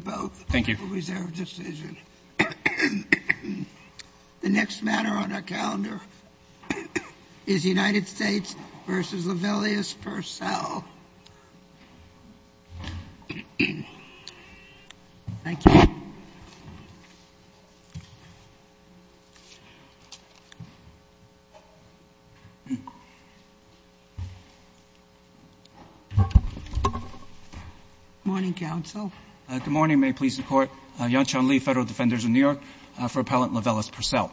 Both. Thank you. Reserve decision. The next matter on our calendar is United States v. LaVellius-Purcell. Thank you. Good morning, counsel. Good morning. May it please the Court. Yon-Chan Lee, Federal Defenders of New York for Appellant LaVellius-Purcell.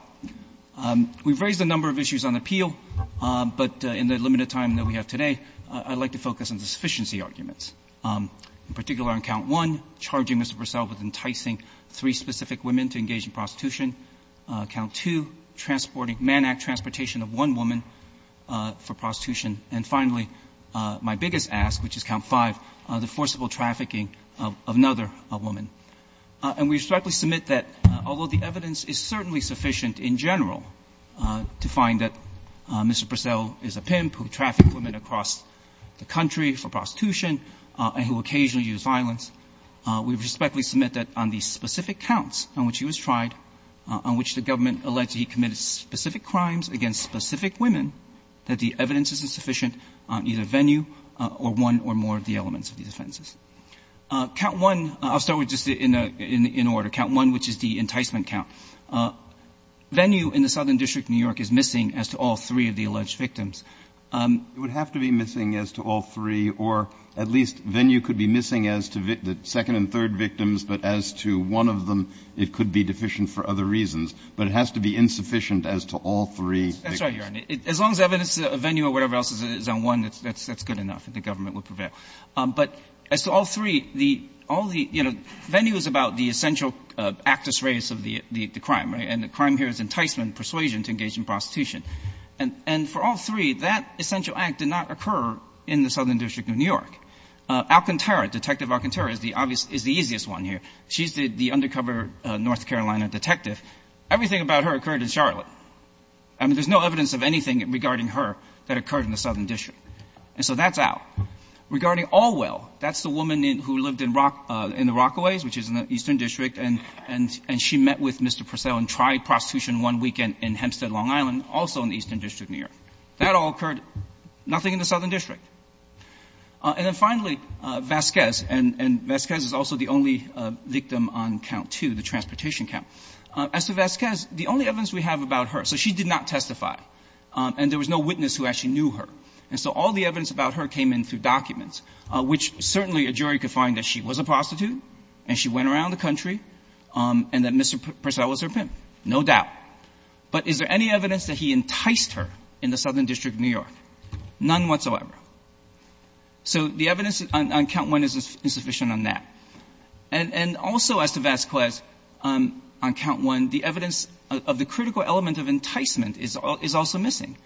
We've raised a number of issues on appeal, but in the limited time that we have today, I'd like to focus on the sufficiency arguments, in particular on count one, charging Mr. Purcell with enticing three specific women to engage in prostitution, count two, transporting — mannack transportation of one woman for prostitution, and finally, my biggest ask, which is count five, the forcible trafficking of another woman. And we respectfully submit that although the evidence is certainly sufficient in general to find that Mr. Purcell is a pimp who trafficked women across the country for prostitution and who occasionally used violence, we respectfully submit that on the specific counts on which he was tried, on which the government alleged he committed specific crimes against specific women, that the evidence isn't sufficient on either venue or one or more of the elements of these offenses. Count one — I'll start with just in order. Count one, which is the enticement count. Venue in the Southern District of New York is missing as to all three of the alleged victims. It would have to be missing as to all three, or at least venue could be missing as to the second and third victims, but as to one of them, it could be deficient for other reasons. But it has to be insufficient as to all three victims. That's right, Your Honor. As long as the evidence of venue or whatever else is on one, that's good enough. The government would prevail. But as to all three, the — all three of the — the crime, right? And the crime here is enticement, persuasion to engage in prostitution. And — and for all three, that essential act did not occur in the Southern District of New York. Alcantara, Detective Alcantara, is the obvious — is the easiest one here. She's the — the undercover North Carolina detective. Everything about her occurred in Charlotte. I mean, there's no evidence of anything regarding her that occurred in the Southern District. And so that's out. Regarding Allwell, that's the woman in — who lived in Rock — in the Rockaways, which is in the Eastern District, and — and she met with Mr. Purcell and tried prostitution one weekend in Hempstead, Long Island, also in the Eastern District of New York. That all occurred, nothing in the Southern District. And then finally, Vasquez. And — and Vasquez is also the only victim on count two, the transportation count. As to Vasquez, the only evidence we have about her — so she did not testify, and there was no witness who actually knew her. And so all the evidence about her came in through documents, which certainly a jury could find that she was a prostitute, and she went around the country, and that Mr. Purcell was her pimp, no doubt. But is there any evidence that he enticed her in the Southern District of New York? None whatsoever. So the evidence on count one is insufficient on that. And also, as to Vasquez, on count one, the evidence of the critical element of enticement is — is also missing.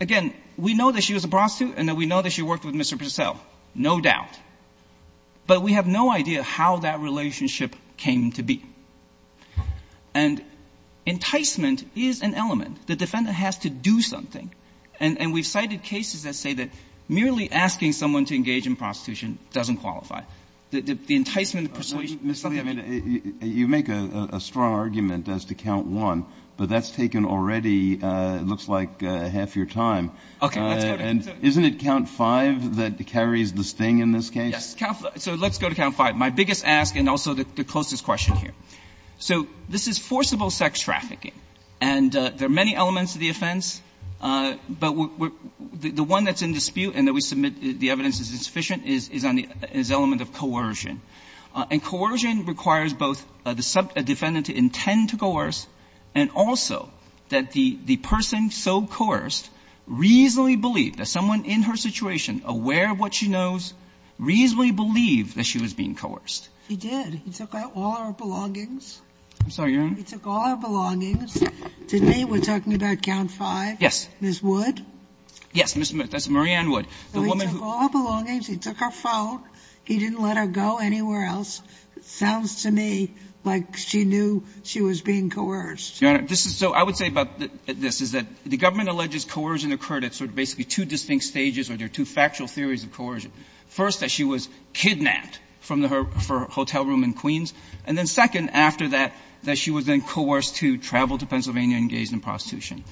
Again, we know that she was a prostitute and that we know that she worked with Mr. Purcell, no doubt. But we have no idea how that relationship came to be. And enticement is an element. The defendant has to do something. And we've cited cases that say that merely asking someone to engage in prostitution doesn't qualify. The enticement persuasion — Kennedy. Mr. Leavitt, you make a strong argument as to count one, but that's taken already, it looks like, half your time. Leavitt. Okay. Let's go to — Can we go to count five that carries the sting in this case? Yes. So let's go to count five. My biggest ask and also the closest question here. So this is forcible sex trafficking. And there are many elements of the offense, but the one that's in dispute and that we submit the evidence is insufficient is on the — is the element of coercion. And coercion requires both the defendant to intend to coerce and also that the — the person so coerced reasonably aware of what she knows, reasonably believe that she was being coerced. He did. He took out all her belongings. I'm sorry, Your Honor. He took all her belongings. To me, we're talking about count five. Yes. Ms. Wood. Yes, Ms. — that's Marianne Wood, the woman who — So he took all her belongings. He took her phone. He didn't let her go anywhere else. Sounds to me like she knew she was being coerced. Your Honor, this is — so I would say about this is that the government alleges coercion occurred at sort of basically two distinct stages, or there are two factual theories of coercion. First, that she was kidnapped from her hotel room in Queens, and then second, after that, that she was then coerced to travel to Pennsylvania and engaged in prostitution.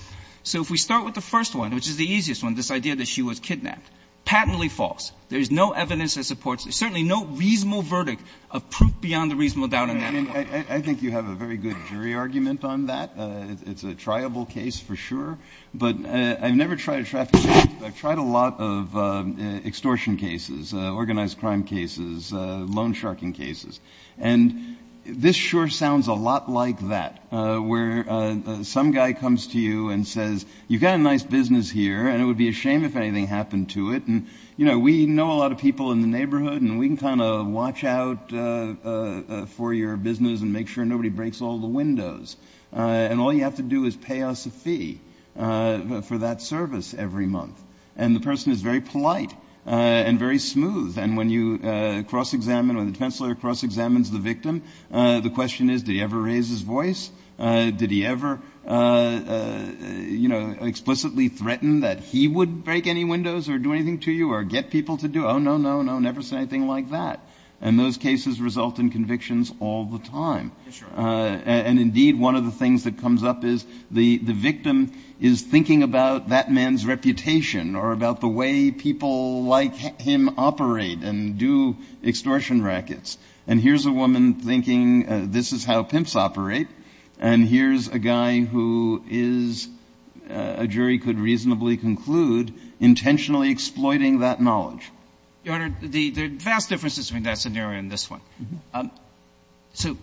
So if we start with the first one, which is the easiest one, this idea that she was kidnapped, patently false. There is no evidence that supports it. There's certainly no reasonable verdict of proof beyond the reasonable doubt in that one. I mean, I think you have a very good jury argument on that. It's a triable case, for sure. But I've never tried a trafficking case. I've tried a lot of extortion cases, organized crime cases, loan sharking cases. And this sure sounds a lot like that, where some guy comes to you and says, you've got a nice business here, and it would be a shame if anything happened to it. And, you know, we know a lot of people in the neighborhood, and we can kind of watch out for your business and make sure nobody breaks all the windows. And all you have to do is pay us a fee for that service every month. And the person is very polite and very smooth. And when you cross-examine, when the defense lawyer cross-examines the victim, the question is, did he ever raise his voice? Did he ever, you know, explicitly threaten that he would break any windows or do anything to you or get people to do? Oh, no, no, no, never said anything like that. And those cases result in convictions all the time. And indeed, one of the things that comes up is the victim is thinking about that man's reputation or about the way people like him operate and do extortion rackets. And here's a woman thinking this is how pimps operate. And here's a guy who is, a jury could reasonably conclude, intentionally exploiting that knowledge. Your Honor, there are vast differences between that scenario and this one. So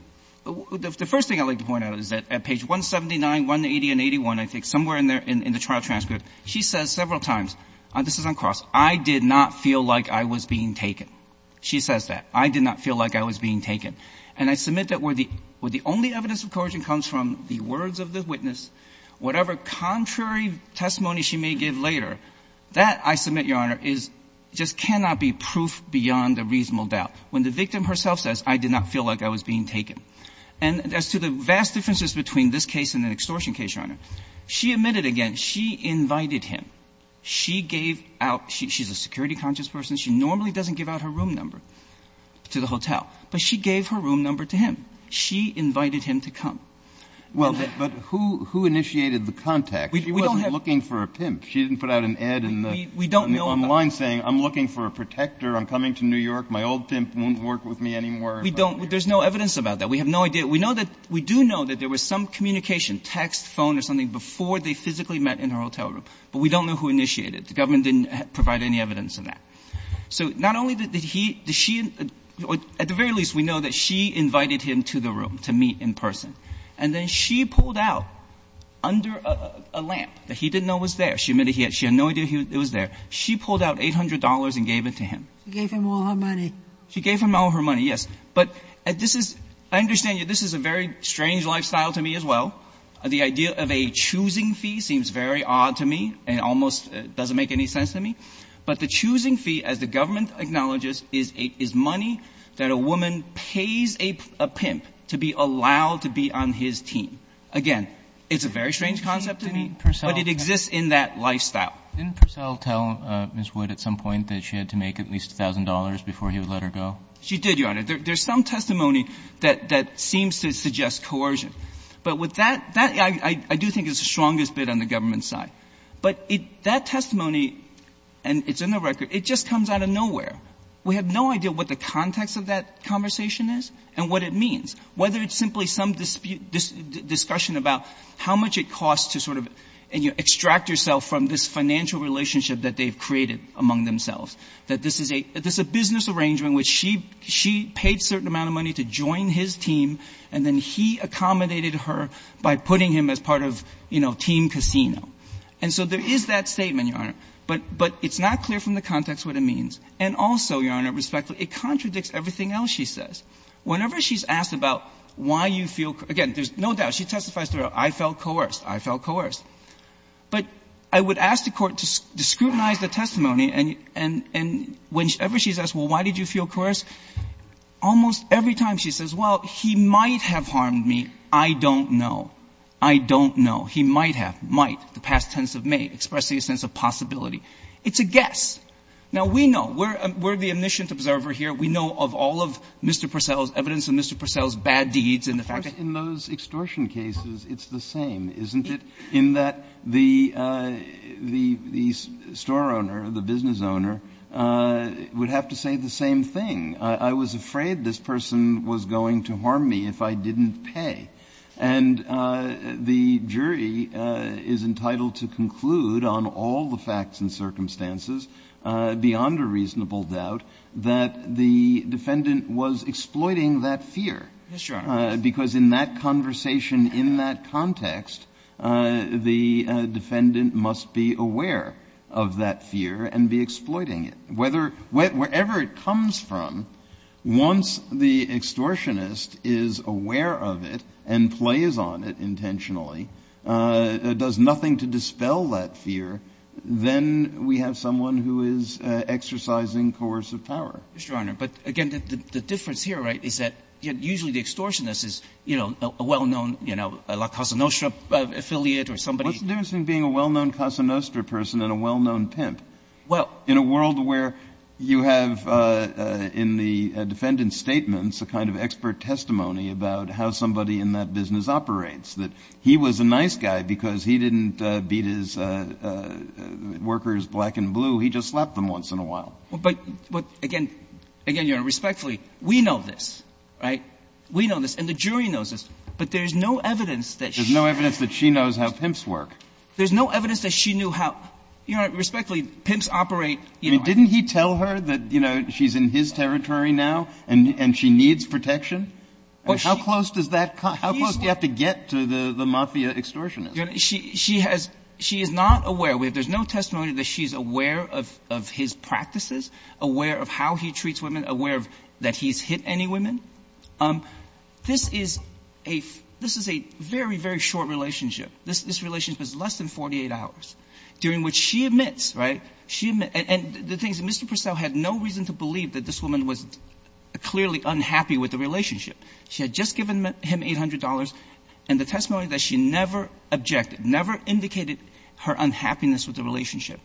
the first thing I'd like to point out is that at page 179, 180, and 81, I think somewhere in there in the trial transcript, she says several times, and this is uncrossed, I did not feel like I was being taken. She says that. I did not feel like I was being taken. And I submit that where the only evidence of coercion comes from the words of the witness, whatever contrary testimony she may give later, that, I submit, Your Honor, just cannot be proof beyond a reasonable doubt. When the victim herself says, I did not feel like I was being taken. And as to the vast differences between this case and an extortion case, Your Honor, she admitted again, she invited him. She gave out, she's a security conscious person. She normally doesn't give out her room number to the hotel. But she gave her room number to him. She invited him to come. Well, but who initiated the contact? She wasn't looking for a pimp. She didn't put out an ad in the online saying, I'm looking for a protector. I'm coming to New York. My old pimp won't work with me anymore. We don't. There's no evidence about that. We have no idea. We know that, we do know that there was some communication, text, phone, or something before they physically met in her hotel room. But we don't know who initiated it. The government didn't provide any evidence of that. So not only did he, did she, at the very least, we know that she invited him to the room to meet in person. And then she pulled out, under a lamp that he didn't know was there, she admitted she had no idea it was there, she pulled out $800 and gave it to him. She gave him all her money. She gave him all her money, yes. But this is, I understand you, this is a very strange lifestyle to me as well. The idea of a choosing fee seems very odd to me. It almost doesn't make any sense to me. But the choosing fee, as the government acknowledges, is money that a woman pays a pimp to be allowed to be on his team. Again, it's a very strange concept to me, but it exists in that lifestyle. Kagan. Didn't Purcell tell Ms. Wood at some point that she had to make at least $1,000 before he would let her go? She did, Your Honor. There's some testimony that seems to suggest coercion. But with that, that, I do think it's the strongest bid on the government's side. But that testimony, and it's in the record, it just comes out of nowhere. We have no idea what the context of that conversation is and what it means, whether it's simply some discussion about how much it costs to sort of extract yourself from this financial relationship that they've created among themselves, that this is a business arrangement in which she paid a certain amount of money to join his team, and then he accommodated her by putting him as part of, you know, team casino. And so there is that statement, Your Honor. But it's not clear from the context what it means. And also, Your Honor, respectfully, it contradicts everything else she says. Whenever she's asked about why you feel, again, there's no doubt she testifies throughout, I felt coerced, I felt coerced. But I would ask the Court to scrutinize the testimony, and whenever she's asked, well, why did you feel coerced, almost every time she says, well, he might have harmed me, I don't know, I don't know, he might have, might, the past tense of may, expressing a sense of possibility, it's a guess. Now, we know. We're the omniscient observer here. We know of all of Mr. Purcell's, evidence of Mr. Purcell's bad deeds and the fact that he's a bad guy. Breyer. Of course, in those extortion cases, it's the same, isn't it, in that the store owner, the business owner, would have to say the same thing. I was afraid this person was going to harm me if I didn't pay. And the jury is entitled to conclude on all the facts and circumstances, beyond a reasonable doubt, that the defendant was exploiting that fear. Yes, Your Honor. Because in that conversation, in that context, the defendant must be aware of that fear and be exploiting it. Wherever it comes from, once the extortionist is aware of it and plays on it intentionally, does nothing to dispel that fear, then we have someone who is exercising coercive power. Yes, Your Honor. But again, the difference here, right, is that usually the extortionist is, you know, a well-known, you know, a Casanostra affiliate or somebody. What's the difference between being a well-known Casanostra person and a well-known pimp? Well — In a world where you have in the defendant's statements a kind of expert testimony about how somebody in that business operates, that he was a nice guy because he didn't beat his workers black and blue. He just slapped them once in a while. But again, Your Honor, respectfully, we know this, right? We know this, and the jury knows this. But there's no evidence that she — There's no evidence that she knows how pimps work. There's no evidence that she knew how — Your Honor, respectfully, pimps operate — I mean, didn't he tell her that, you know, she's in his territory now and she needs protection? How close does that — how close do you have to get to the mafia extortionist? She has — she is not aware. There's no testimony that she's aware of his practices, aware of how he treats women, aware that he's hit any women. This is a — this is a very, very short relationship. This relationship is less than 48 hours, during which she admits, right, and the thing is, Mr. Purcell had no reason to believe that this woman was clearly unhappy with the relationship. She had just given him $800, and the testimony that she never objected, never indicated her unhappiness with the relationship.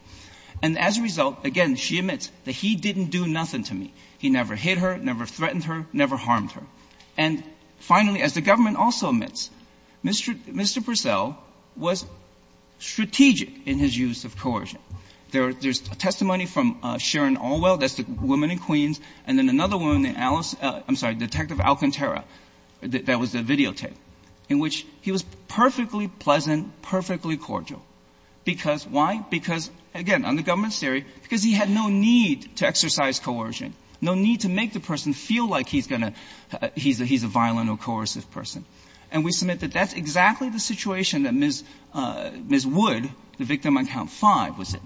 And as a result, again, she admits that he didn't do nothing to me. He never hit her, never threatened her, never harmed her. And finally, as the government also admits, Mr. Purcell was strategic in his use of coercion. There's testimony from Sharon Orwell, that's the woman in Queens, and then another woman, Alice — I'm sorry, Detective Alcantara, that was the videotape, in which he was perfectly pleasant, perfectly cordial. Because why? Because, again, under government theory, because he had no need to exercise coercion, no need to make the person feel like he's going to — he's a violent or coercive person. And we submit that that's exactly the situation that Ms. Wood, the victim on count five, was in.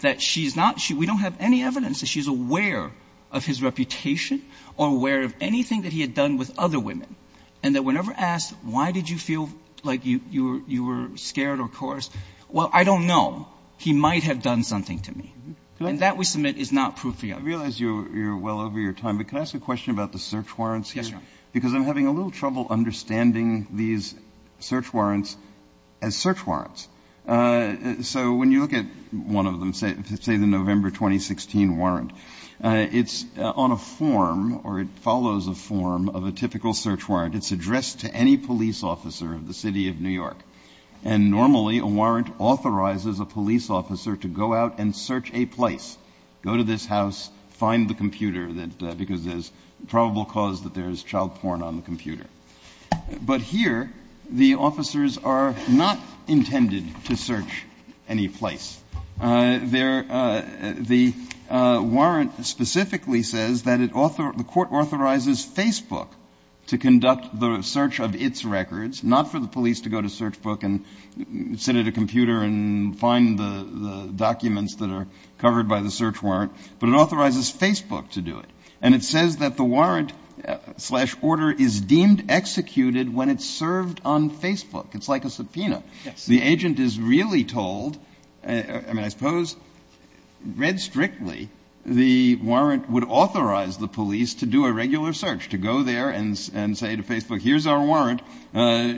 That she's not — we don't have any evidence that she's aware of his reputation or aware of anything that he had done with other women. And that whenever asked, why did you feel like you were scared or coerced, well, I don't know. He might have done something to me. And that, we submit, is not proof we have. I realize you're well over your time, but can I ask a question about the search warrants here? Because I'm having a little trouble understanding these search warrants as search warrants. So when you look at one of them, say the November 2016 warrant, it's on a form or it follows a form of a typical search warrant. It's addressed to any police officer of the City of New York. And normally, a warrant authorizes a police officer to go out and search a place, go to this house, find the computer that — because there's probable cause that there's child porn on the computer. But here, the officers are not intended to search any place. The warrant specifically says that the court authorizes Facebook to conduct the search of its records, not for the police to go to search book and sit at a computer and find the documents that are covered by the search warrant. But it authorizes Facebook to do it. And it says that the warrant slash order is deemed executed when it's served on Facebook. It's like a subpoena. The agent is really told — I mean, I suppose read strictly, the warrant would authorize the police to do a regular search, to go there and say to Facebook, here's our warrant.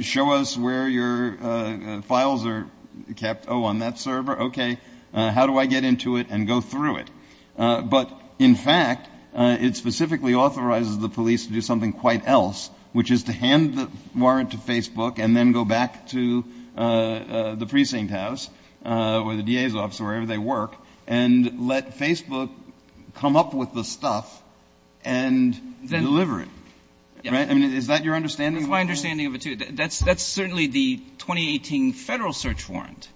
Show us where your files are kept. Oh, on that server? Okay. How do I get into it and go through it? But, in fact, it specifically authorizes the police to do something quite else, which is to hand the warrant to Facebook and then go back to the precinct house or the DA's office, wherever they work, and let Facebook come up with the stuff and deliver it. Right? I mean, is that your understanding? That's my understanding of it, too. That's certainly the 2018 federal search warrant.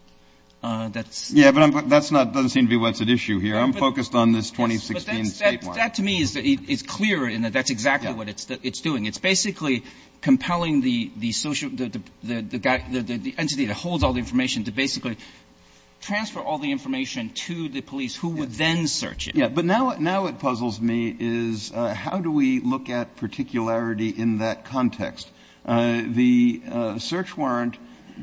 That's — Yeah, but that's not — doesn't seem to be what's at issue here. I'm focused on this 2016 state warrant. That, to me, is clear in that that's exactly what it's doing. It's basically compelling the social — the entity that holds all the information to basically transfer all the information to the police, who would then search it. Yeah. But now what puzzles me is how do we look at particularity in that context? The search warrant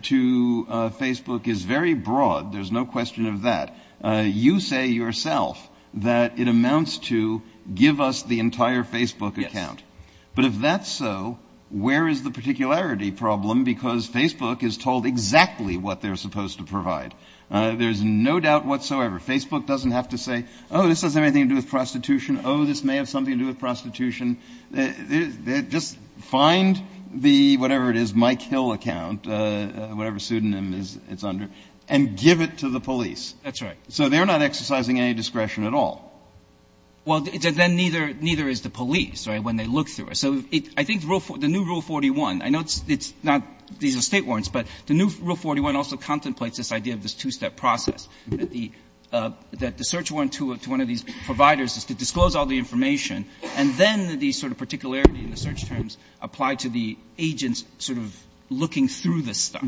to Facebook is very broad. There's no question of that. You say yourself that it amounts to give us the entire Facebook account. Yes. But if that's so, where is the particularity problem? Because Facebook is told exactly what they're supposed to provide. There's no doubt whatsoever. Facebook doesn't have to say, oh, this doesn't have anything to do with prostitution. Oh, this may have something to do with prostitution. Just find the — whatever it is, Mike Hill account, whatever pseudonym it's under, and give it to the police. That's right. So they're not exercising any discretion at all. Well, then neither is the police, right, when they look through it. So I think the new Rule 41 — I know it's not — these are State warrants, but the new Rule 41 also contemplates this idea of this two-step process, that the search warrant to one of these providers is to disclose all the information, and then the sort of particularity in the search terms apply to the agents sort of looking through this stuff.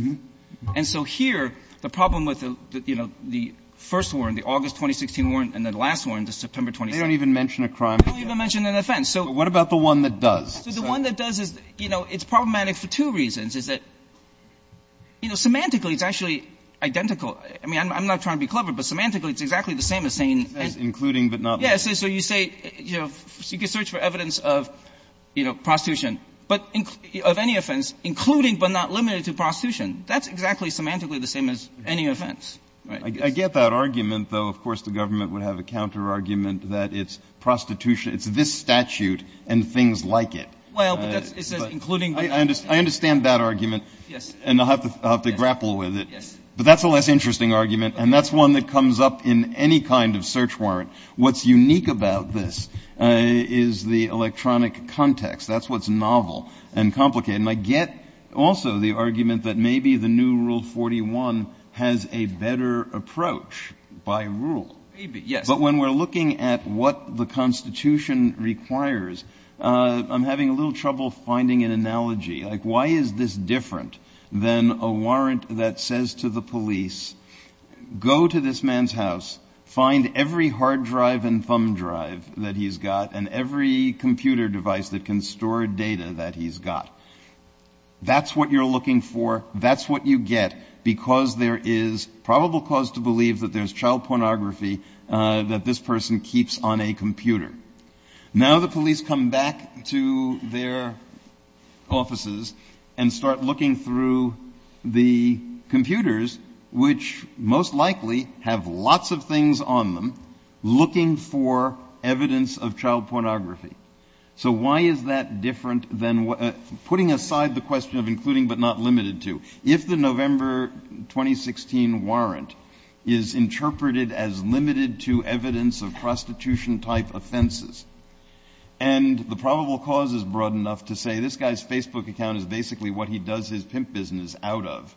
And so here, the problem with the, you know, the first warrant, the August 2016 warrant, and the last warrant, the September 2016 — They don't even mention a crime. They don't even mention an offense. So — But what about the one that does? So the one that does is, you know, it's problematic for two reasons. It's that, you know, semantically it's actually identical. I mean, I'm not trying to be clever, but semantically it's exactly the same as saying — It says including but not — Yes. So you say, you know, you can search for evidence of, you know, prostitution, but — of any offense, including but not limited to prostitution. That's exactly semantically the same as any offense. I get that argument, though. Of course, the government would have a counterargument that it's prostitution — it's this statute and things like it. Well, but that's — it says including — I understand that argument. Yes. And I'll have to grapple with it. Yes. But that's a less interesting argument, and that's one that comes up in any kind of search warrant. What's unique about this is the electronic context. That's what's novel and complicated. And I get also the argument that maybe the new Rule 41 has a better approach by rule. Maybe, yes. But when we're looking at what the Constitution requires, I'm having a little trouble finding an analogy. Like, why is this different than a warrant that says to the police, go to this man's house, find every hard drive and thumb drive that he's got and every computer device that can store data that he's got? That's what you're looking for. That's what you get because there is probable cause to believe that there's child pornography that this person keeps on a computer. Now the police come back to their offices and start looking through the computers, which most likely have lots of things on them, looking for evidence of child pornography. So why is that different than what — putting aside the question of including but not limited to, if the November 2016 warrant is interpreted as limited to evidence of prostitution-type offenses and the probable cause is broad enough to say this guy's Facebook account is basically what he does his pimp business out of,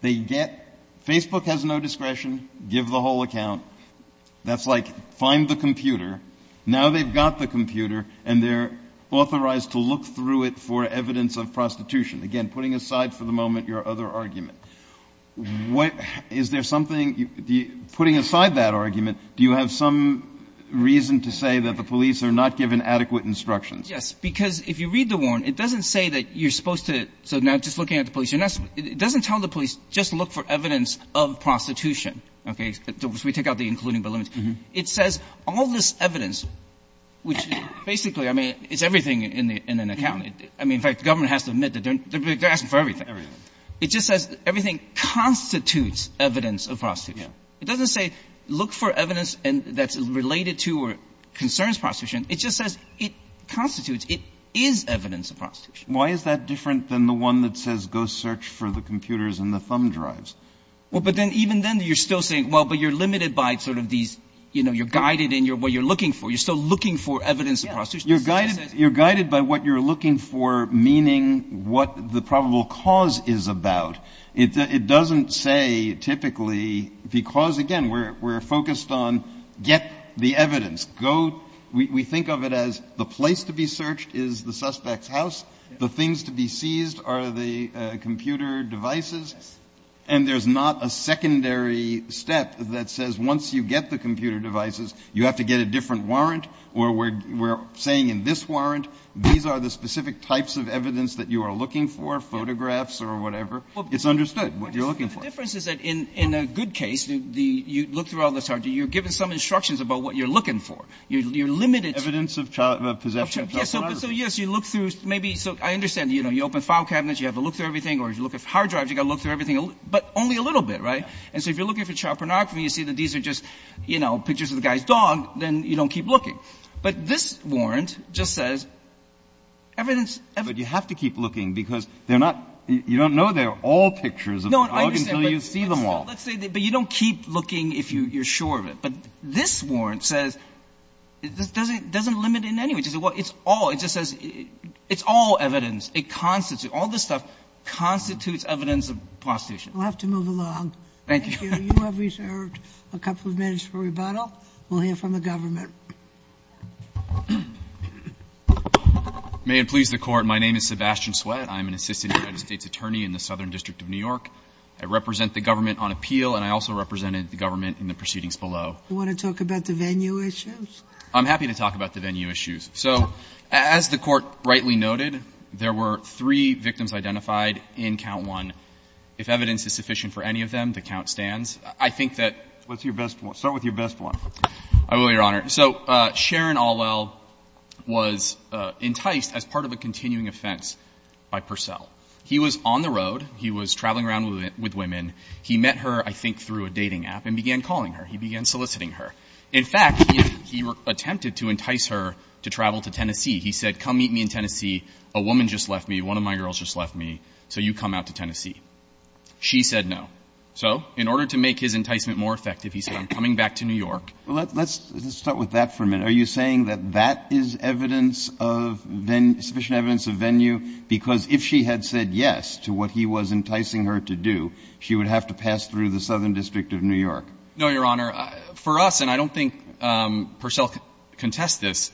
they get — Facebook has no discretion, give the whole account. That's like, find the computer. Now they've got the computer and they're authorized to look through it for evidence of prostitution. Again, putting aside for the moment your other argument, what — is there something — putting aside that argument, do you have some reason to say that the police are not given adequate instructions? Yes, because if you read the warrant, it doesn't say that you're supposed to — so now just looking at the police — it doesn't tell the police just look for evidence of prostitution, okay, so we take out the including but limited. It says all this evidence, which basically, I mean, it's everything in an account. I mean, in fact, the government has to admit that they're asking for everything. Everything. It just says everything constitutes evidence of prostitution. It doesn't say look for evidence that's related to or concerns prostitution. It just says it constitutes, it is evidence of prostitution. Why is that different than the one that says go search for the computers and the thumb drives? Well, but then even then you're still saying, well, but you're limited by sort of these, you know, you're guided in what you're looking for. You're still looking for evidence of prostitution. You're guided by what you're looking for, meaning what the probable cause is about. It doesn't say typically because, again, we're focused on get the evidence, go — we think of it as the place to be searched is the suspect's house. The things to be seized are the computer devices. And there's not a secondary step that says once you get the computer devices, you have to get a different warrant. Or we're saying in this warrant, these are the specific types of evidence that you are looking for, photographs or whatever. It's understood what you're looking for. The difference is that in a good case, you look through all this hard — you're given some instructions about what you're looking for. You're limited — Evidence of possession of child pornography. So yes, you look through maybe — so I understand, you know, you open file cabinets, you have to look through everything. Or if you're looking for hard drives, you've got to look through everything. But only a little bit, right? And so if you're looking for child pornography, you see that these are just, you know, pictures of the guy's dog, then you don't keep looking. But this warrant just says evidence — But you have to keep looking because they're not — you don't know they're all pictures of the dog until you see them all. No, I understand, but let's say — but you don't keep looking if you're sure of it. But this warrant says — it doesn't limit in any way. It just says, well, it's all — it just says it's all evidence. It constitutes — all this stuff constitutes evidence of prostitution. We'll have to move along. Thank you. You have reserved a couple of minutes for rebuttal. We'll hear from the government. May it please the Court. My name is Sebastian Sweat. I'm an assistant United States attorney in the Southern District of New York. I represent the government on appeal, and I also represented the government in the proceedings below. You want to talk about the venue issues? I'm happy to talk about the venue issues. So as the Court rightly noted, there were three victims identified in count one. If evidence is sufficient for any of them, the count stands. I think that — What's your best one? Start with your best one. I will, Your Honor. So Sharon Allwell was enticed as part of a continuing offense by Purcell. He was on the road. He was traveling around with women. He met her, I think, through a dating app and began calling her. He began soliciting her. In fact, he attempted to entice her to travel to Tennessee. He said, come meet me in Tennessee. A woman just left me. One of my girls just left me. So you come out to Tennessee. She said no. So in order to make his enticement more effective, he said, I'm coming back to New York. Well, let's start with that for a minute. Are you saying that that is evidence of — sufficient evidence of venue? Because if she had said yes to what he was enticing her to do, she would have to pass through the Southern District of New York. No, Your Honor. For us, and I don't think Purcell can contest this,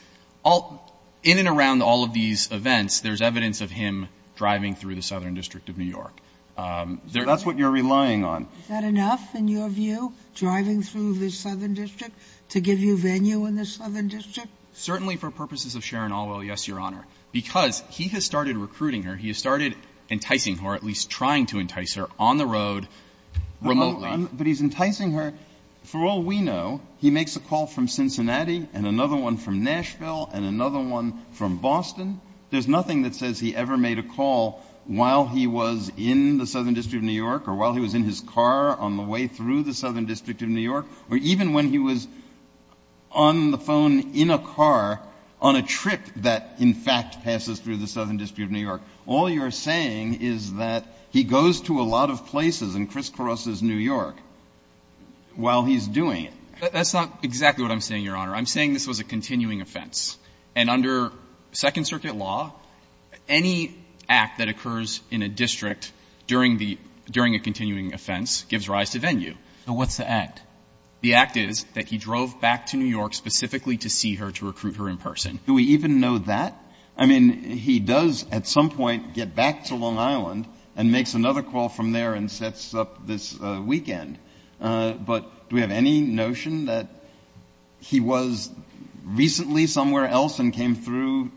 in and around all of these events, there's evidence of him driving through the Southern District of New York. That's what you're relying on. Is that enough, in your view, driving through the Southern District to give you venue in the Southern District? Certainly for purposes of Sharon Allwell, yes, Your Honor. Because he has started recruiting her. He has started enticing her, or at least trying to entice her, on the road remotely. But he's enticing her — for all we know, he makes a call from Cincinnati and another one from Nashville and another one from Boston. There's nothing that says he ever made a call while he was in the Southern District of New York or while he was in his car on the way through the Southern District of New York or even when he was on the phone in a car on a trip that, in fact, passes through the Southern District of New York. All you're saying is that he goes to a lot of places and crisscrosses New York while he's doing it. That's not exactly what I'm saying, Your Honor. I'm saying this was a continuing offense. And under Second Circuit law, any act that occurs in a district during the — during a continuing offense gives rise to venue. So what's the act? The act is that he drove back to New York specifically to see her, to recruit her in person. Do we even know that? I mean, he does at some point get back to Long Island and makes another call from there and sets up this weekend. But do we have any notion that he was recently somewhere else and came through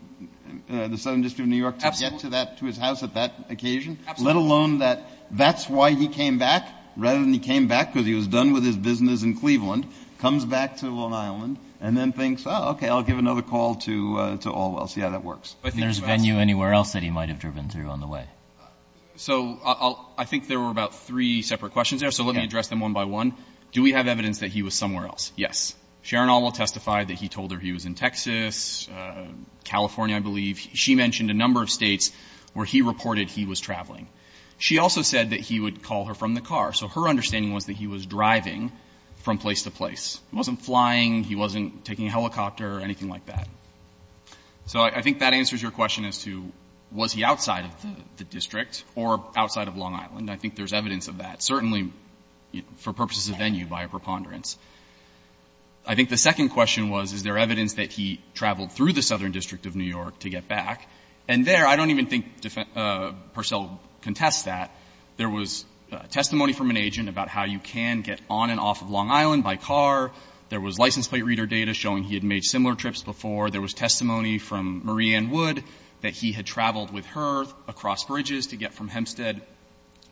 the Southern District of New York to get to that — to his house at that occasion? Let alone that that's why he came back, rather than he came back because he was done with his business in Cleveland, comes back to Long Island and then thinks, oh, OK, I'll give another call to Allwell. Yeah, that works. But there's venue anywhere else that he might have driven through on the way? So I think there were about three separate questions there, so let me address them one by one. Do we have evidence that he was somewhere else? Yes. Sharon Allwell testified that he told her he was in Texas, California, I believe. She mentioned a number of states where he reported he was traveling. She also said that he would call her from the car. So her understanding was that he was driving from place to place. He wasn't flying. He wasn't taking a helicopter or anything like that. So I think that answers your question as to was he outside of the district or outside of Long Island. I think there's evidence of that, certainly for purposes of venue by a preponderance. I think the second question was, is there evidence that he traveled through the Southern District of New York to get back? And there, I don't even think Purcell contests that. There was testimony from an agent about how you can get on and off of Long Island by car. There was license plate reader data showing he had made similar trips before. There was testimony from Marie Ann Wood that he had traveled with her across bridges to get from Hempstead,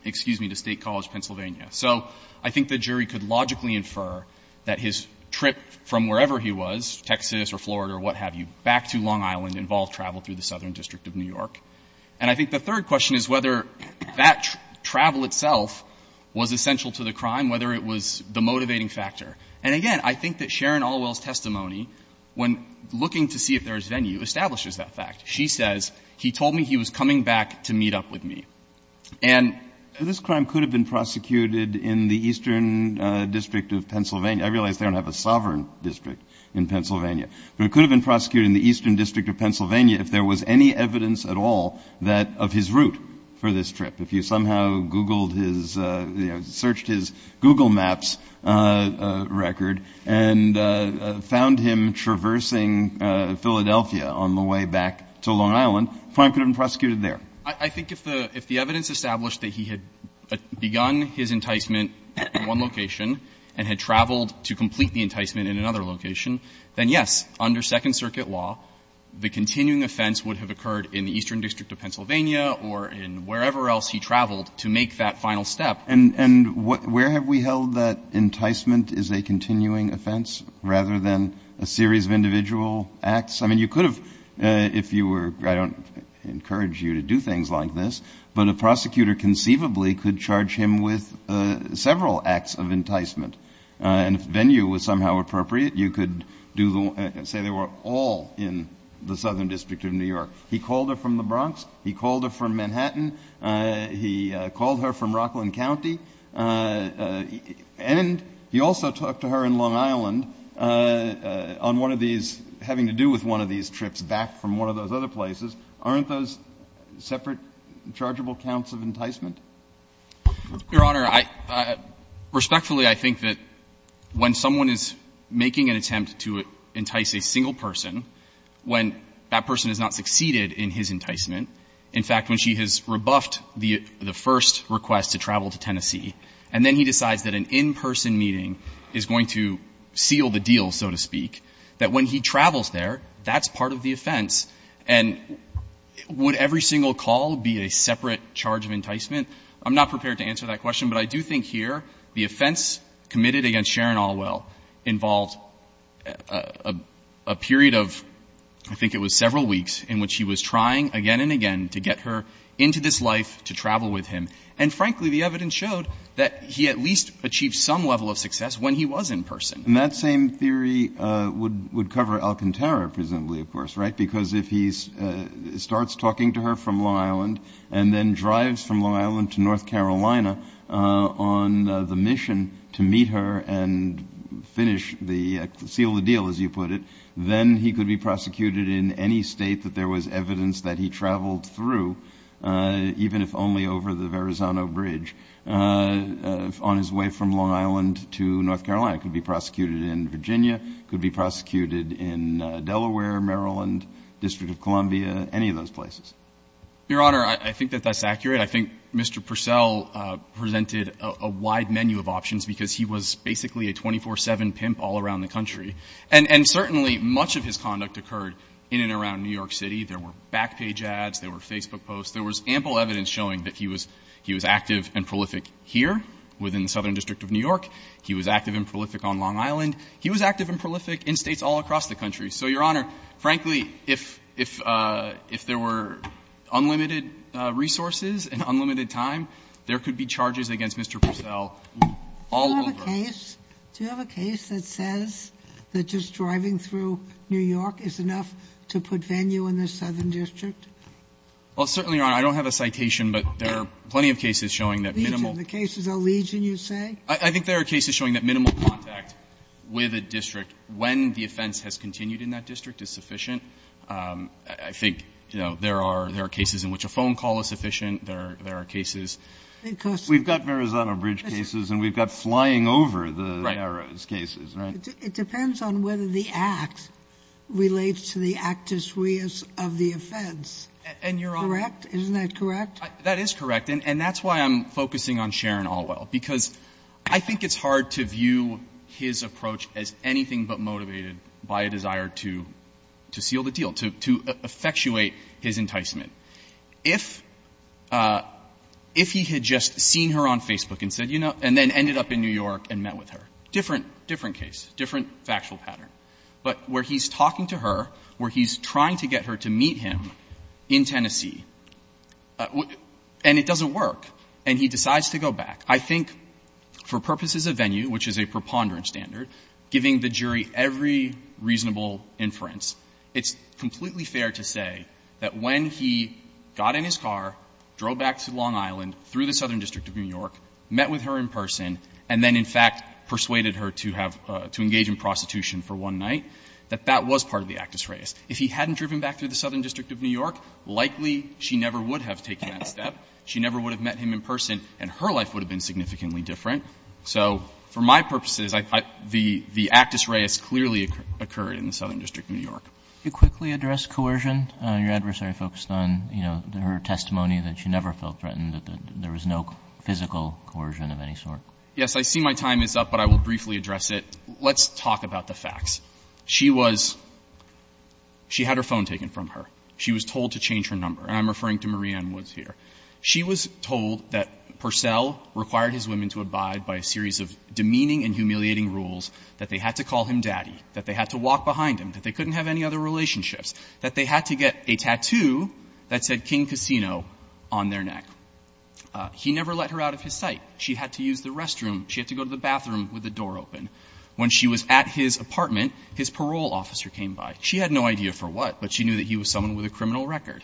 excuse me, to State College, Pennsylvania. So I think the jury could logically infer that his trip from wherever he was, Texas or Florida or what have you, back to Long Island involved travel through the Southern District of New York. And I think the third question is whether that travel itself was essential to the crime, whether it was the motivating factor. And again, I think that Sharon Allwell's testimony, when looking to see if there's venue, establishes that fact. She says, he told me he was coming back to meet up with me. And this crime could have been prosecuted in the Eastern District of Pennsylvania. I realize they don't have a sovereign district in Pennsylvania. But it could have been prosecuted in the Eastern District of Pennsylvania if there was any evidence at all that of his route for this trip. If you somehow Googled his, you know, searched his Google Maps record and found him traversing Philadelphia on the way back to Long Island, the crime could have been prosecuted there. I think if the evidence established that he had begun his enticement in one location and had traveled to complete the enticement in another location, then yes, under Second Circuit law, the continuing offense would have occurred in the Eastern District of Pennsylvania or in wherever else he traveled to make that final step. And where have we held that enticement is a continuing offense rather than a series of individual acts? I mean, you could have, if you were, I don't encourage you to do things like this, but a prosecutor conceivably could charge him with several acts of enticement. And if venue was somehow appropriate, you could say they were all in the Southern District of New York. He called her from the Bronx. He called her from Manhattan. He called her from Rockland County. And he also talked to her in Long Island on one of these, having to do with one of these trips back from one of those other places. Aren't those separate, chargeable counts of enticement? Your Honor, respectfully, I think that when someone is making an attempt to entice a single person, when that person has not succeeded in his enticement, in fact, when she has rebuffed the first request to travel to Tennessee, and then he decides that an in-person meeting is going to seal the deal, so to speak, that when he travels there, that's part of the offense. And would every single call be a separate charge of enticement? I'm not prepared to answer that question, but I do think here the offense committed against Sharon Alwell involved a period of, I think it was several weeks, in which he was trying again and again to get her into this life to travel with him. And frankly, the evidence showed that he at least achieved some level of success when he was in person. And that same theory would cover Alcantara, presumably, of course, right? Because if he starts talking to her from Long Island and then drives from Long Island to North Carolina on the mission to meet her and seal the deal, as you put it, then he could be prosecuted in any state that there was evidence that he traveled through, even if only over the Verrazano Bridge, on his way from Long Island to North Carolina. He could be prosecuted in Virginia, he could be prosecuted in Delaware, Maryland, District of Columbia, any of those places. Your Honor, I think that that's accurate. I think Mr. Purcell presented a wide menu of options because he was basically a 24-7 pimp all around the country. And certainly much of his conduct occurred in and around New York City. There were back page ads, there were Facebook posts, there was ample evidence showing that he was active and prolific here within the Southern District of New York. He was active and prolific on Long Island. He was active and prolific in States all across the country. So, Your Honor, frankly, if there were unlimited resources and unlimited time, there could be charges against Mr. Purcell all over. Do you have a case that says that just driving through New York is enough to put venue in the Southern District? Well, certainly, Your Honor, I don't have a citation, but there are plenty of cases showing that minimal. The cases of Legion, you say? in that district is sufficient. I think, you know, there are cases in which a phone call is sufficient. There are cases... We've got Marizano Bridge cases and we've got Flying Over the Arrows cases, right? It depends on whether the act relates to the actus reus of the offense. And, Your Honor... Correct? Isn't that correct? That is correct. And that's why I'm focusing on Sharon Alwell because I think it's hard to view his motivation by a desire to seal the deal, to effectuate his enticement. If he had just seen her on Facebook and said, you know, and then ended up in New York and met with her, different case, different factual pattern. But where he's talking to her, where he's trying to get her to meet him in Tennessee, and it doesn't work, and he decides to go back, I think, for purposes of venue, which is a preponderance standard, giving the jury every reasonable inference. It's completely fair to say that when he got in his car, drove back to Long Island through the Southern District of New York, met with her in person, and then, in fact, persuaded her to have to engage in prostitution for one night, that that was part of the actus reus. If he hadn't driven back through the Southern District of New York, likely she never would have taken that step. She never would have met him in person and her life would have been significantly different. So for my purposes, the actus reus clearly occurred in the Southern District of New York. Can you quickly address coercion? Your adversary focused on, you know, her testimony that she never felt threatened, that there was no physical coercion of any sort. Yes. I see my time is up, but I will briefly address it. Let's talk about the facts. She was — she had her phone taken from her. She was told to change her number, and I'm referring to Marie Ann Woods here. She was told that Purcell required his women to abide by a series of demeaning and humiliating rules, that they had to call him daddy, that they had to walk behind him, that they couldn't have any other relationships, that they had to get a tattoo that said King Casino on their neck. He never let her out of his sight. She had to use the restroom. She had to go to the bathroom with the door open. When she was at his apartment, his parole officer came by. She had no idea for what, but she knew that he was someone with a criminal record.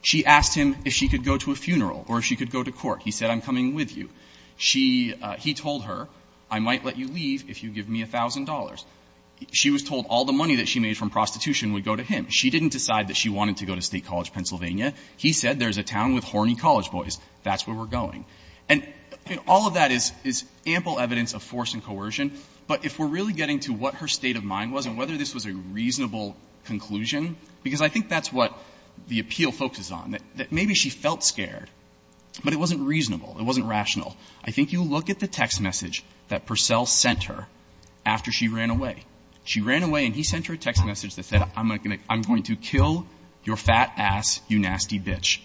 She asked him if she could go to a funeral or if she could go to court. He said, I'm coming with you. She — he told her, I might let you leave if you give me $1,000. She was told all the money that she made from prostitution would go to him. She didn't decide that she wanted to go to State College, Pennsylvania. He said, there's a town with horny college boys. That's where we're going. And all of that is — is ample evidence of force and coercion, but if we're really getting to what her state of mind was and whether this was a reasonable conclusion, because I think that's what the appeal focuses on, that maybe she felt scared, but it wasn't reasonable. It wasn't rational. I think you look at the text message that Purcell sent her after she ran away. She ran away, and he sent her a text message that said, I'm going to kill your fat ass, you nasty bitch.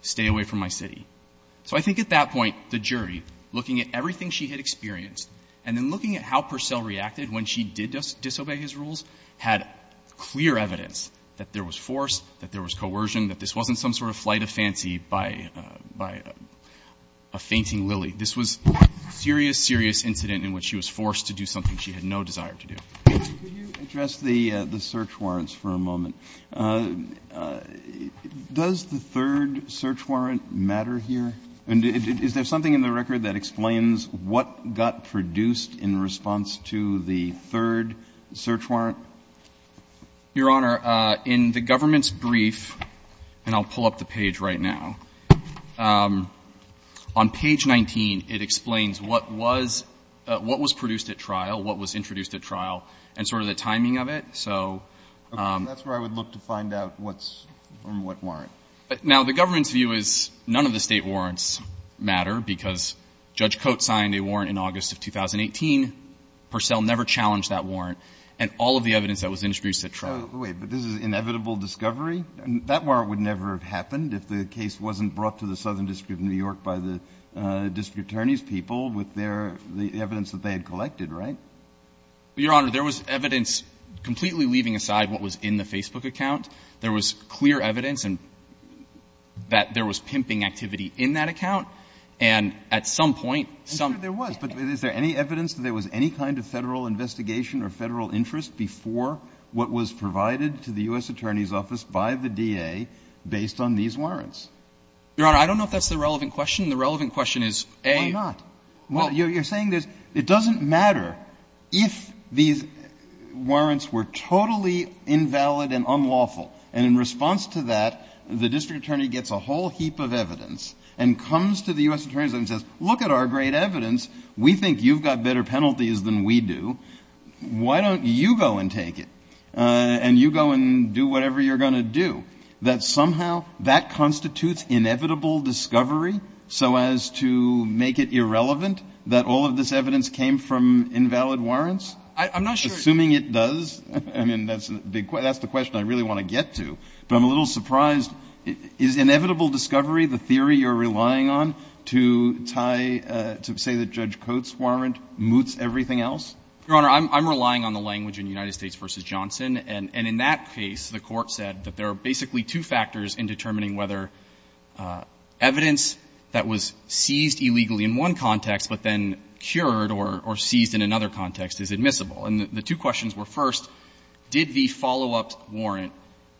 Stay away from my city. So I think at that point, the jury, looking at everything she had experienced and then looking at how Purcell reacted when she did disobey his rules, had clear evidence that there was force, that there was coercion, that this wasn't some sort of flight of fancy by — by a fainting lily. This was a serious, serious incident in which she was forced to do something she had no desire to do. Kennedy, could you address the — the search warrants for a moment? Does the third search warrant matter here? Is there something in the record that explains what got produced in response to the third search warrant? Your Honor, in the government's brief, and I'll pull up the page right now, on page 19, it explains what was — what was produced at trial, what was introduced at trial, and sort of the timing of it. So — That's where I would look to find out what's — from what warrant. Now, the government's view is none of the State warrants matter, because Judge Coates signed a warrant in August of 2018. Purcell never challenged that warrant. And all of the evidence that was introduced at trial — Wait. But this is inevitable discovery? That warrant would never have happened if the case wasn't brought to the Southern District of New York by the district attorney's people with their — the evidence that they had collected, right? Your Honor, there was evidence completely leaving aside what was in the Facebook account. There was clear evidence and — that there was pimping activity in that account. And at some point, some — I'm sure there was. But is there any evidence that there was any kind of Federal investigation or Federal interest before what was provided to the U.S. Attorney's Office by the DA based on these warrants? Your Honor, I don't know if that's the relevant question. The relevant question is, A — Why not? Well, you're saying there's — it doesn't matter if these warrants were totally invalid and unlawful, and in response to that, the district attorney gets a whole We think you've got better penalties than we do. Why don't you go and take it? And you go and do whatever you're going to do. That somehow that constitutes inevitable discovery so as to make it irrelevant that all of this evidence came from invalid warrants? I'm not sure — Assuming it does, I mean, that's the question I really want to get to. But I'm a little surprised. Is inevitable discovery the theory you're relying on to tie — to say that Judge Cote's warrant moots everything else? Your Honor, I'm relying on the language in United States v. Johnson. And in that case, the Court said that there are basically two factors in determining whether evidence that was seized illegally in one context but then cured or seized in another context is admissible. And the two questions were, first, did the follow-up warrant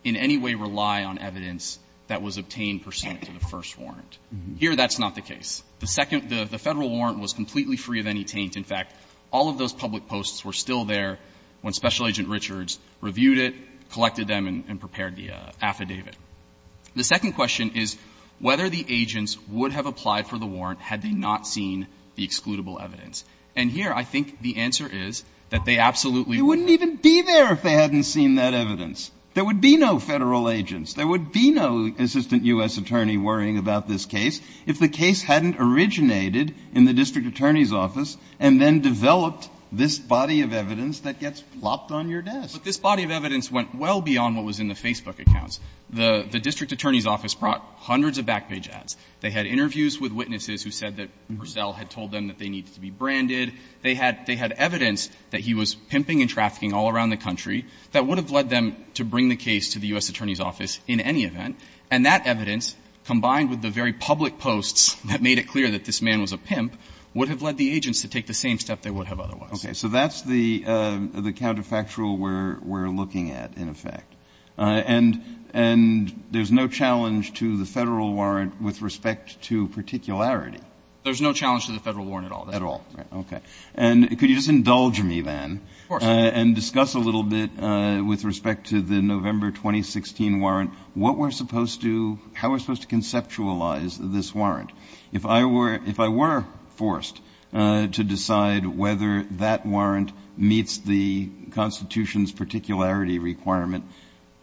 in any way rely on evidence that was obtained pursuant to the first warrant? Here, that's not the case. The second — the Federal warrant was completely free of any taint. In fact, all of those public posts were still there when Special Agent Richards reviewed it, collected them, and prepared the affidavit. The second question is whether the agents would have applied for the warrant had they not seen the excludable evidence. And here, I think the answer is that they absolutely would not. They wouldn't even be there if they hadn't seen that evidence. There would be no Federal agents. There would be no assistant U.S. attorney worrying about this case. If the case hadn't originated in the district attorney's office and then developed this body of evidence that gets plopped on your desk. But this body of evidence went well beyond what was in the Facebook accounts. The district attorney's office brought hundreds of back page ads. They had interviews with witnesses who said that Purcell had told them that they needed to be branded. They had evidence that he was pimping and trafficking all around the country that would have led them to bring the case to the U.S. attorney's office in any event. And that evidence, combined with the very public posts that made it clear that this man was a pimp, would have led the agents to take the same step they would have otherwise. Breyer. So that's the counterfactual we're looking at, in effect. And there's no challenge to the Federal warrant with respect to particularity. There's no challenge to the Federal warrant at all. At all. Okay. And could you just indulge me, then, and discuss a little bit with respect to the question of how we're supposed to conceptualize this warrant. If I were forced to decide whether that warrant meets the Constitution's particularity requirement,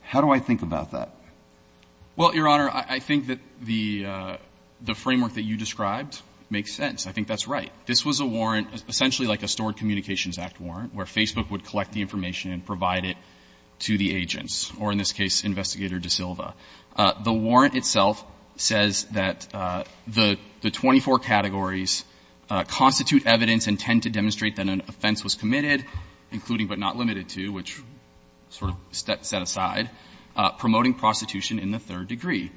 how do I think about that? Well, Your Honor, I think that the framework that you described makes sense. I think that's right. This was a warrant, essentially like a Stored Communications Act warrant, where Facebook would collect the information and provide it to the agents, or in this case, Investigator DaSilva. The warrant itself says that the 24 categories constitute evidence and tend to demonstrate that an offense was committed, including but not limited to, which sort of set aside, promoting prostitution in the third degree.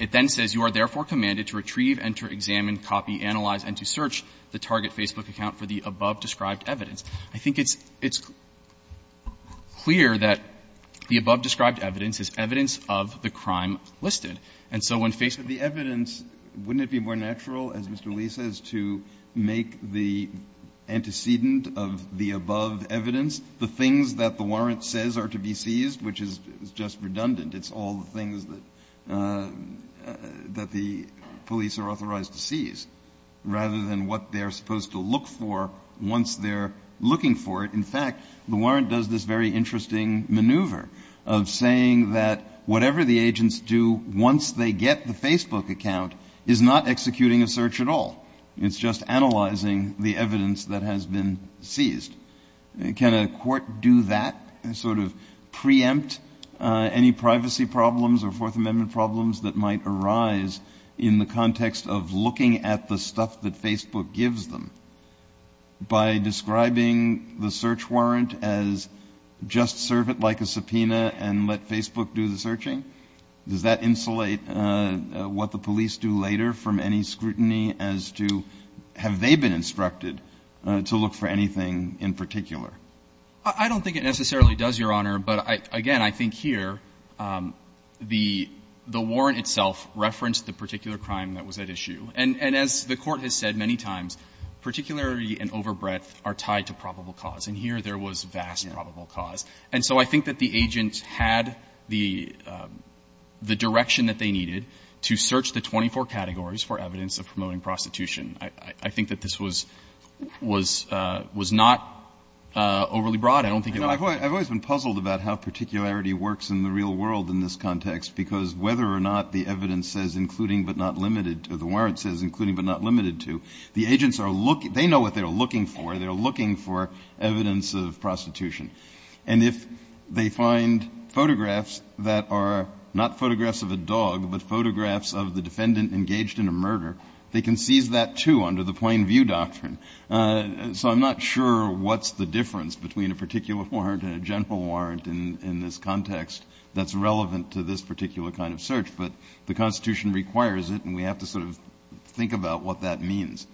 It then says, you are therefore commanded to retrieve, enter, examine, copy, analyze, and to search the target Facebook account for the above-described evidence. I think it's clear that the above-described evidence is evidence of the crime listed. And so when Facebook goes to Facebook and says, well, we're going to search the target Facebook account for the above-described evidence, wouldn't it be more natural, as Mr. Lee says, to make the antecedent of the above evidence the things that the warrant says are to be seized, which is just redundant? It's all the things that the police are authorized to seize, rather than what they are supposed to look for once they're looking for it. In fact, the warrant does this very interesting maneuver of saying that whatever the agents do once they get the Facebook account is not executing a search at all. It's just analyzing the evidence that has been seized. Can a court do that and sort of preempt any privacy problems or Fourth Amendment problems that might arise in the context of looking at the stuff that Facebook gives them by describing the search warrant as just serve it like a subpoena and let Facebook do the searching? Does that insulate what the police do later from any scrutiny as to have they been instructed to look for anything in particular? I don't think it necessarily does, Your Honor. But again, I think here the warrant itself referenced the particular crime that was at issue. And as the Court has said many times, particularity and overbreadth are tied to probable cause. And here there was vast probable cause. And so I think that the agent had the direction that they needed to search the 24 categories for evidence of promoting prostitution. I think that this was not overly broad. I don't think it was. Breyer. I've always been puzzled about how particularity works in the real world in this context, because whether or not the evidence says including but not limited to the warrant says including but not limited to, the agents are looking. They know what they're looking for. They're looking for evidence of prostitution. And if they find photographs that are not photographs of a dog, but photographs of the defendant engaged in a murder, they can seize that, too, under the plain view doctrine. So I'm not sure what's the difference between a particular warrant and a general warrant in this context that's relevant to this particular kind of search. But the Constitution requires it, and we have to sort of think about what that means.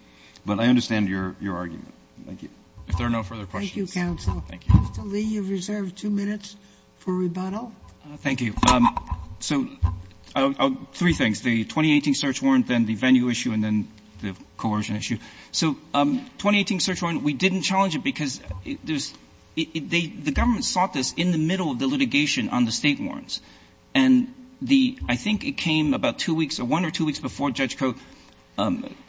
But I understand your argument. Thank you. If there are no further questions. Thank you, counsel. Thank you. Mr. Lee, you have reserved two minutes for rebuttal. Thank you. So three things. The 2018 search warrant, then the venue issue, and then the coercion issue. So 2018 search warrant, we didn't challenge it because there's the government sought this in the middle of the litigation on the state warrants. And I think it came about two weeks or one or two weeks before Judge Coe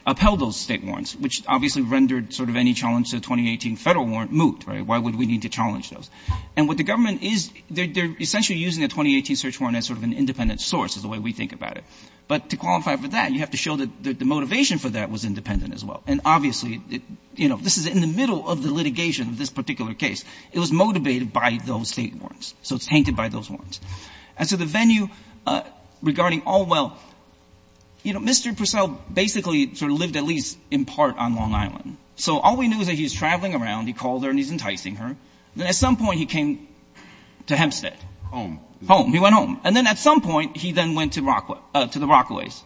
upheld those state warrants, which obviously rendered sort of any challenge to the 2018 federal warrant moot, right? Why would we need to challenge those? And what the government is, they're essentially using the 2018 search warrant as sort of an independent source is the way we think about it. But to qualify for that, you have to show that the motivation for that was independent as well. And obviously, this is in the middle of the litigation of this particular case. It was motivated by those state warrants. So it's tainted by those warrants. And so the venue regarding Allwell, Mr. Purcell basically sort of lived at least in part on Long Island. So all we knew is that he's traveling around, he called her and he's enticing her. Then at some point, he came to Hempstead. Home. Home, he went home. And then at some point, he then went to the Rockaways.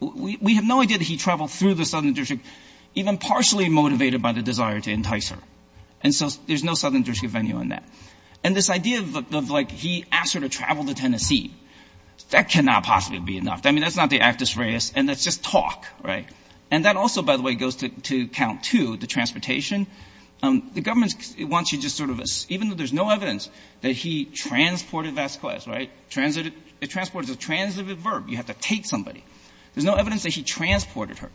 We have no idea that he traveled through the Southern District, even partially motivated by the desire to entice her. And so there's no Southern District venue on that. And this idea of he asked her to travel to Tennessee, that cannot possibly be enough. I mean, that's not the actus reus, and that's just talk, right? And that also, by the way, goes to count two, the transportation. The government wants you to just sort of assume, even though there's no evidence that he transported Vasquez, right? It transported is a transitive verb. You have to take somebody. There's no evidence that he transported her.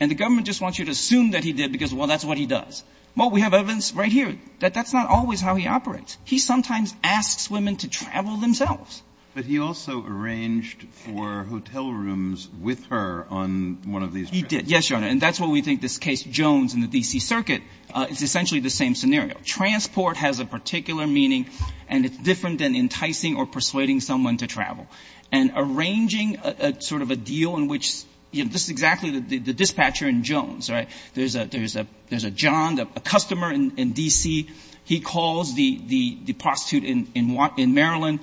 And the government just wants you to assume that he did because, well, that's what he does. Well, we have evidence right here that that's not always how he operates. He sometimes asks women to travel themselves. But he also arranged for hotel rooms with her on one of these trips. He did, yes, Your Honor. And that's what we think this case Jones in the D.C. Circuit is essentially the same scenario. Transport has a particular meaning, and it's different than enticing or persuading someone to travel. And arranging sort of a deal in which, you know, this is exactly the dispatcher in Jones, right? There's a John, a customer in D.C. He calls the prostitute in Maryland,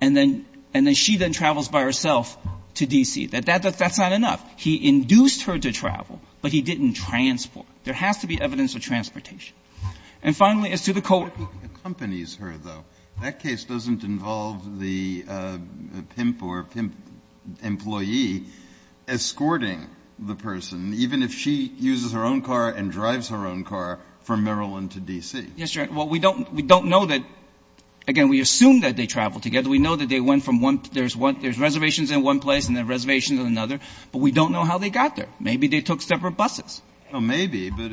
and then she then travels by herself to D.C. That's not enough. He induced her to travel, but he didn't transport. There has to be evidence of transportation. And finally, as to the coworker. Breyer. Accompanies her, though. That case doesn't involve the pimp or pimp employee escorting the person, even if she uses her own car and drives her own car from Maryland to D.C. Yes, Your Honor. Well, we don't know that. Again, we assume that they traveled together. We know that they went from one to one. There's reservations in one place and then reservations in another. But we don't know how they got there. Maybe they took separate buses. Maybe. But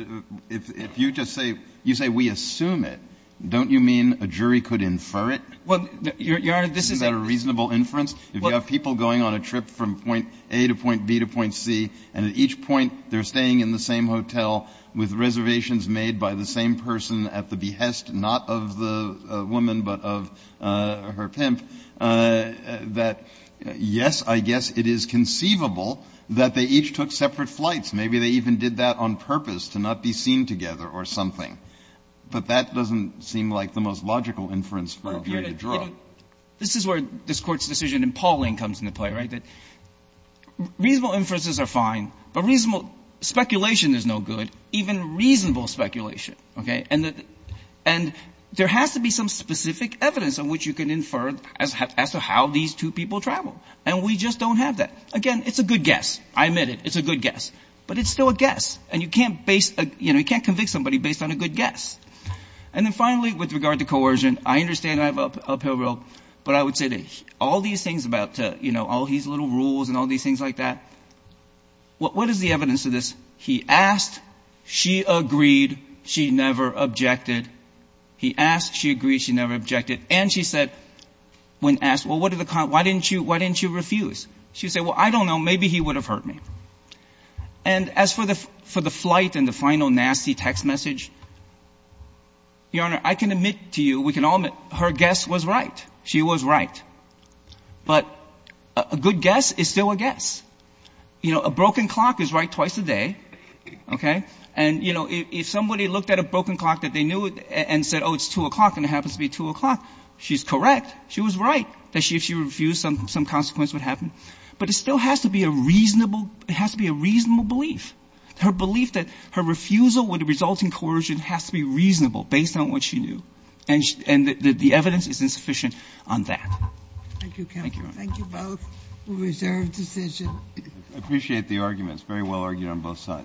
if you just say you say we assume it, don't you mean a jury could infer it? Well, Your Honor, this is a reasonable inference. If you have people going on a trip from point A to point B to point C, and at each point they're staying in the same hotel with reservations made by the same person at the behest not of the woman but of her pimp, that yes, I guess it is conceivable. That they each took separate flights. Maybe they even did that on purpose to not be seen together or something. But that doesn't seem like the most logical inference for a jury to draw. This is where this Court's decision in Pauling comes into play, right? That reasonable inferences are fine, but reasonable speculation is no good, even reasonable speculation. Okay? And there has to be some specific evidence in which you can infer as to how these two people travel. And we just don't have that. Again, it's a good guess. I admit it. It's a good guess. But it's still a guess. And you can't base, you know, you can't convict somebody based on a good guess. And then finally, with regard to coercion, I understand I have an uphill road. But I would say that all these things about, you know, all these little rules and all these things like that, what is the evidence of this? He asked. She agreed. She never objected. He asked. She agreed. She never objected. And she said, when asked, well, what are the, why didn't you refuse? She said, well, I don't know. Maybe he would have heard me. And as for the flight and the final nasty text message, Your Honor, I can admit to you, we can all admit, her guess was right. She was right. But a good guess is still a guess. You know, a broken clock is right twice a day. Okay? And, you know, if somebody looked at a broken clock that they knew and said, oh, it's 2 o'clock, and it happens to be 2 o'clock, she's correct. She was right. That if she refused, some consequence would happen. But it still has to be a reasonable, it has to be a reasonable belief. Her belief that her refusal would result in coercion has to be reasonable based on what she knew. And the evidence is insufficient on that. Thank you, counsel. Thank you both. Reserve decision. I appreciate the arguments. Very well argued on both sides.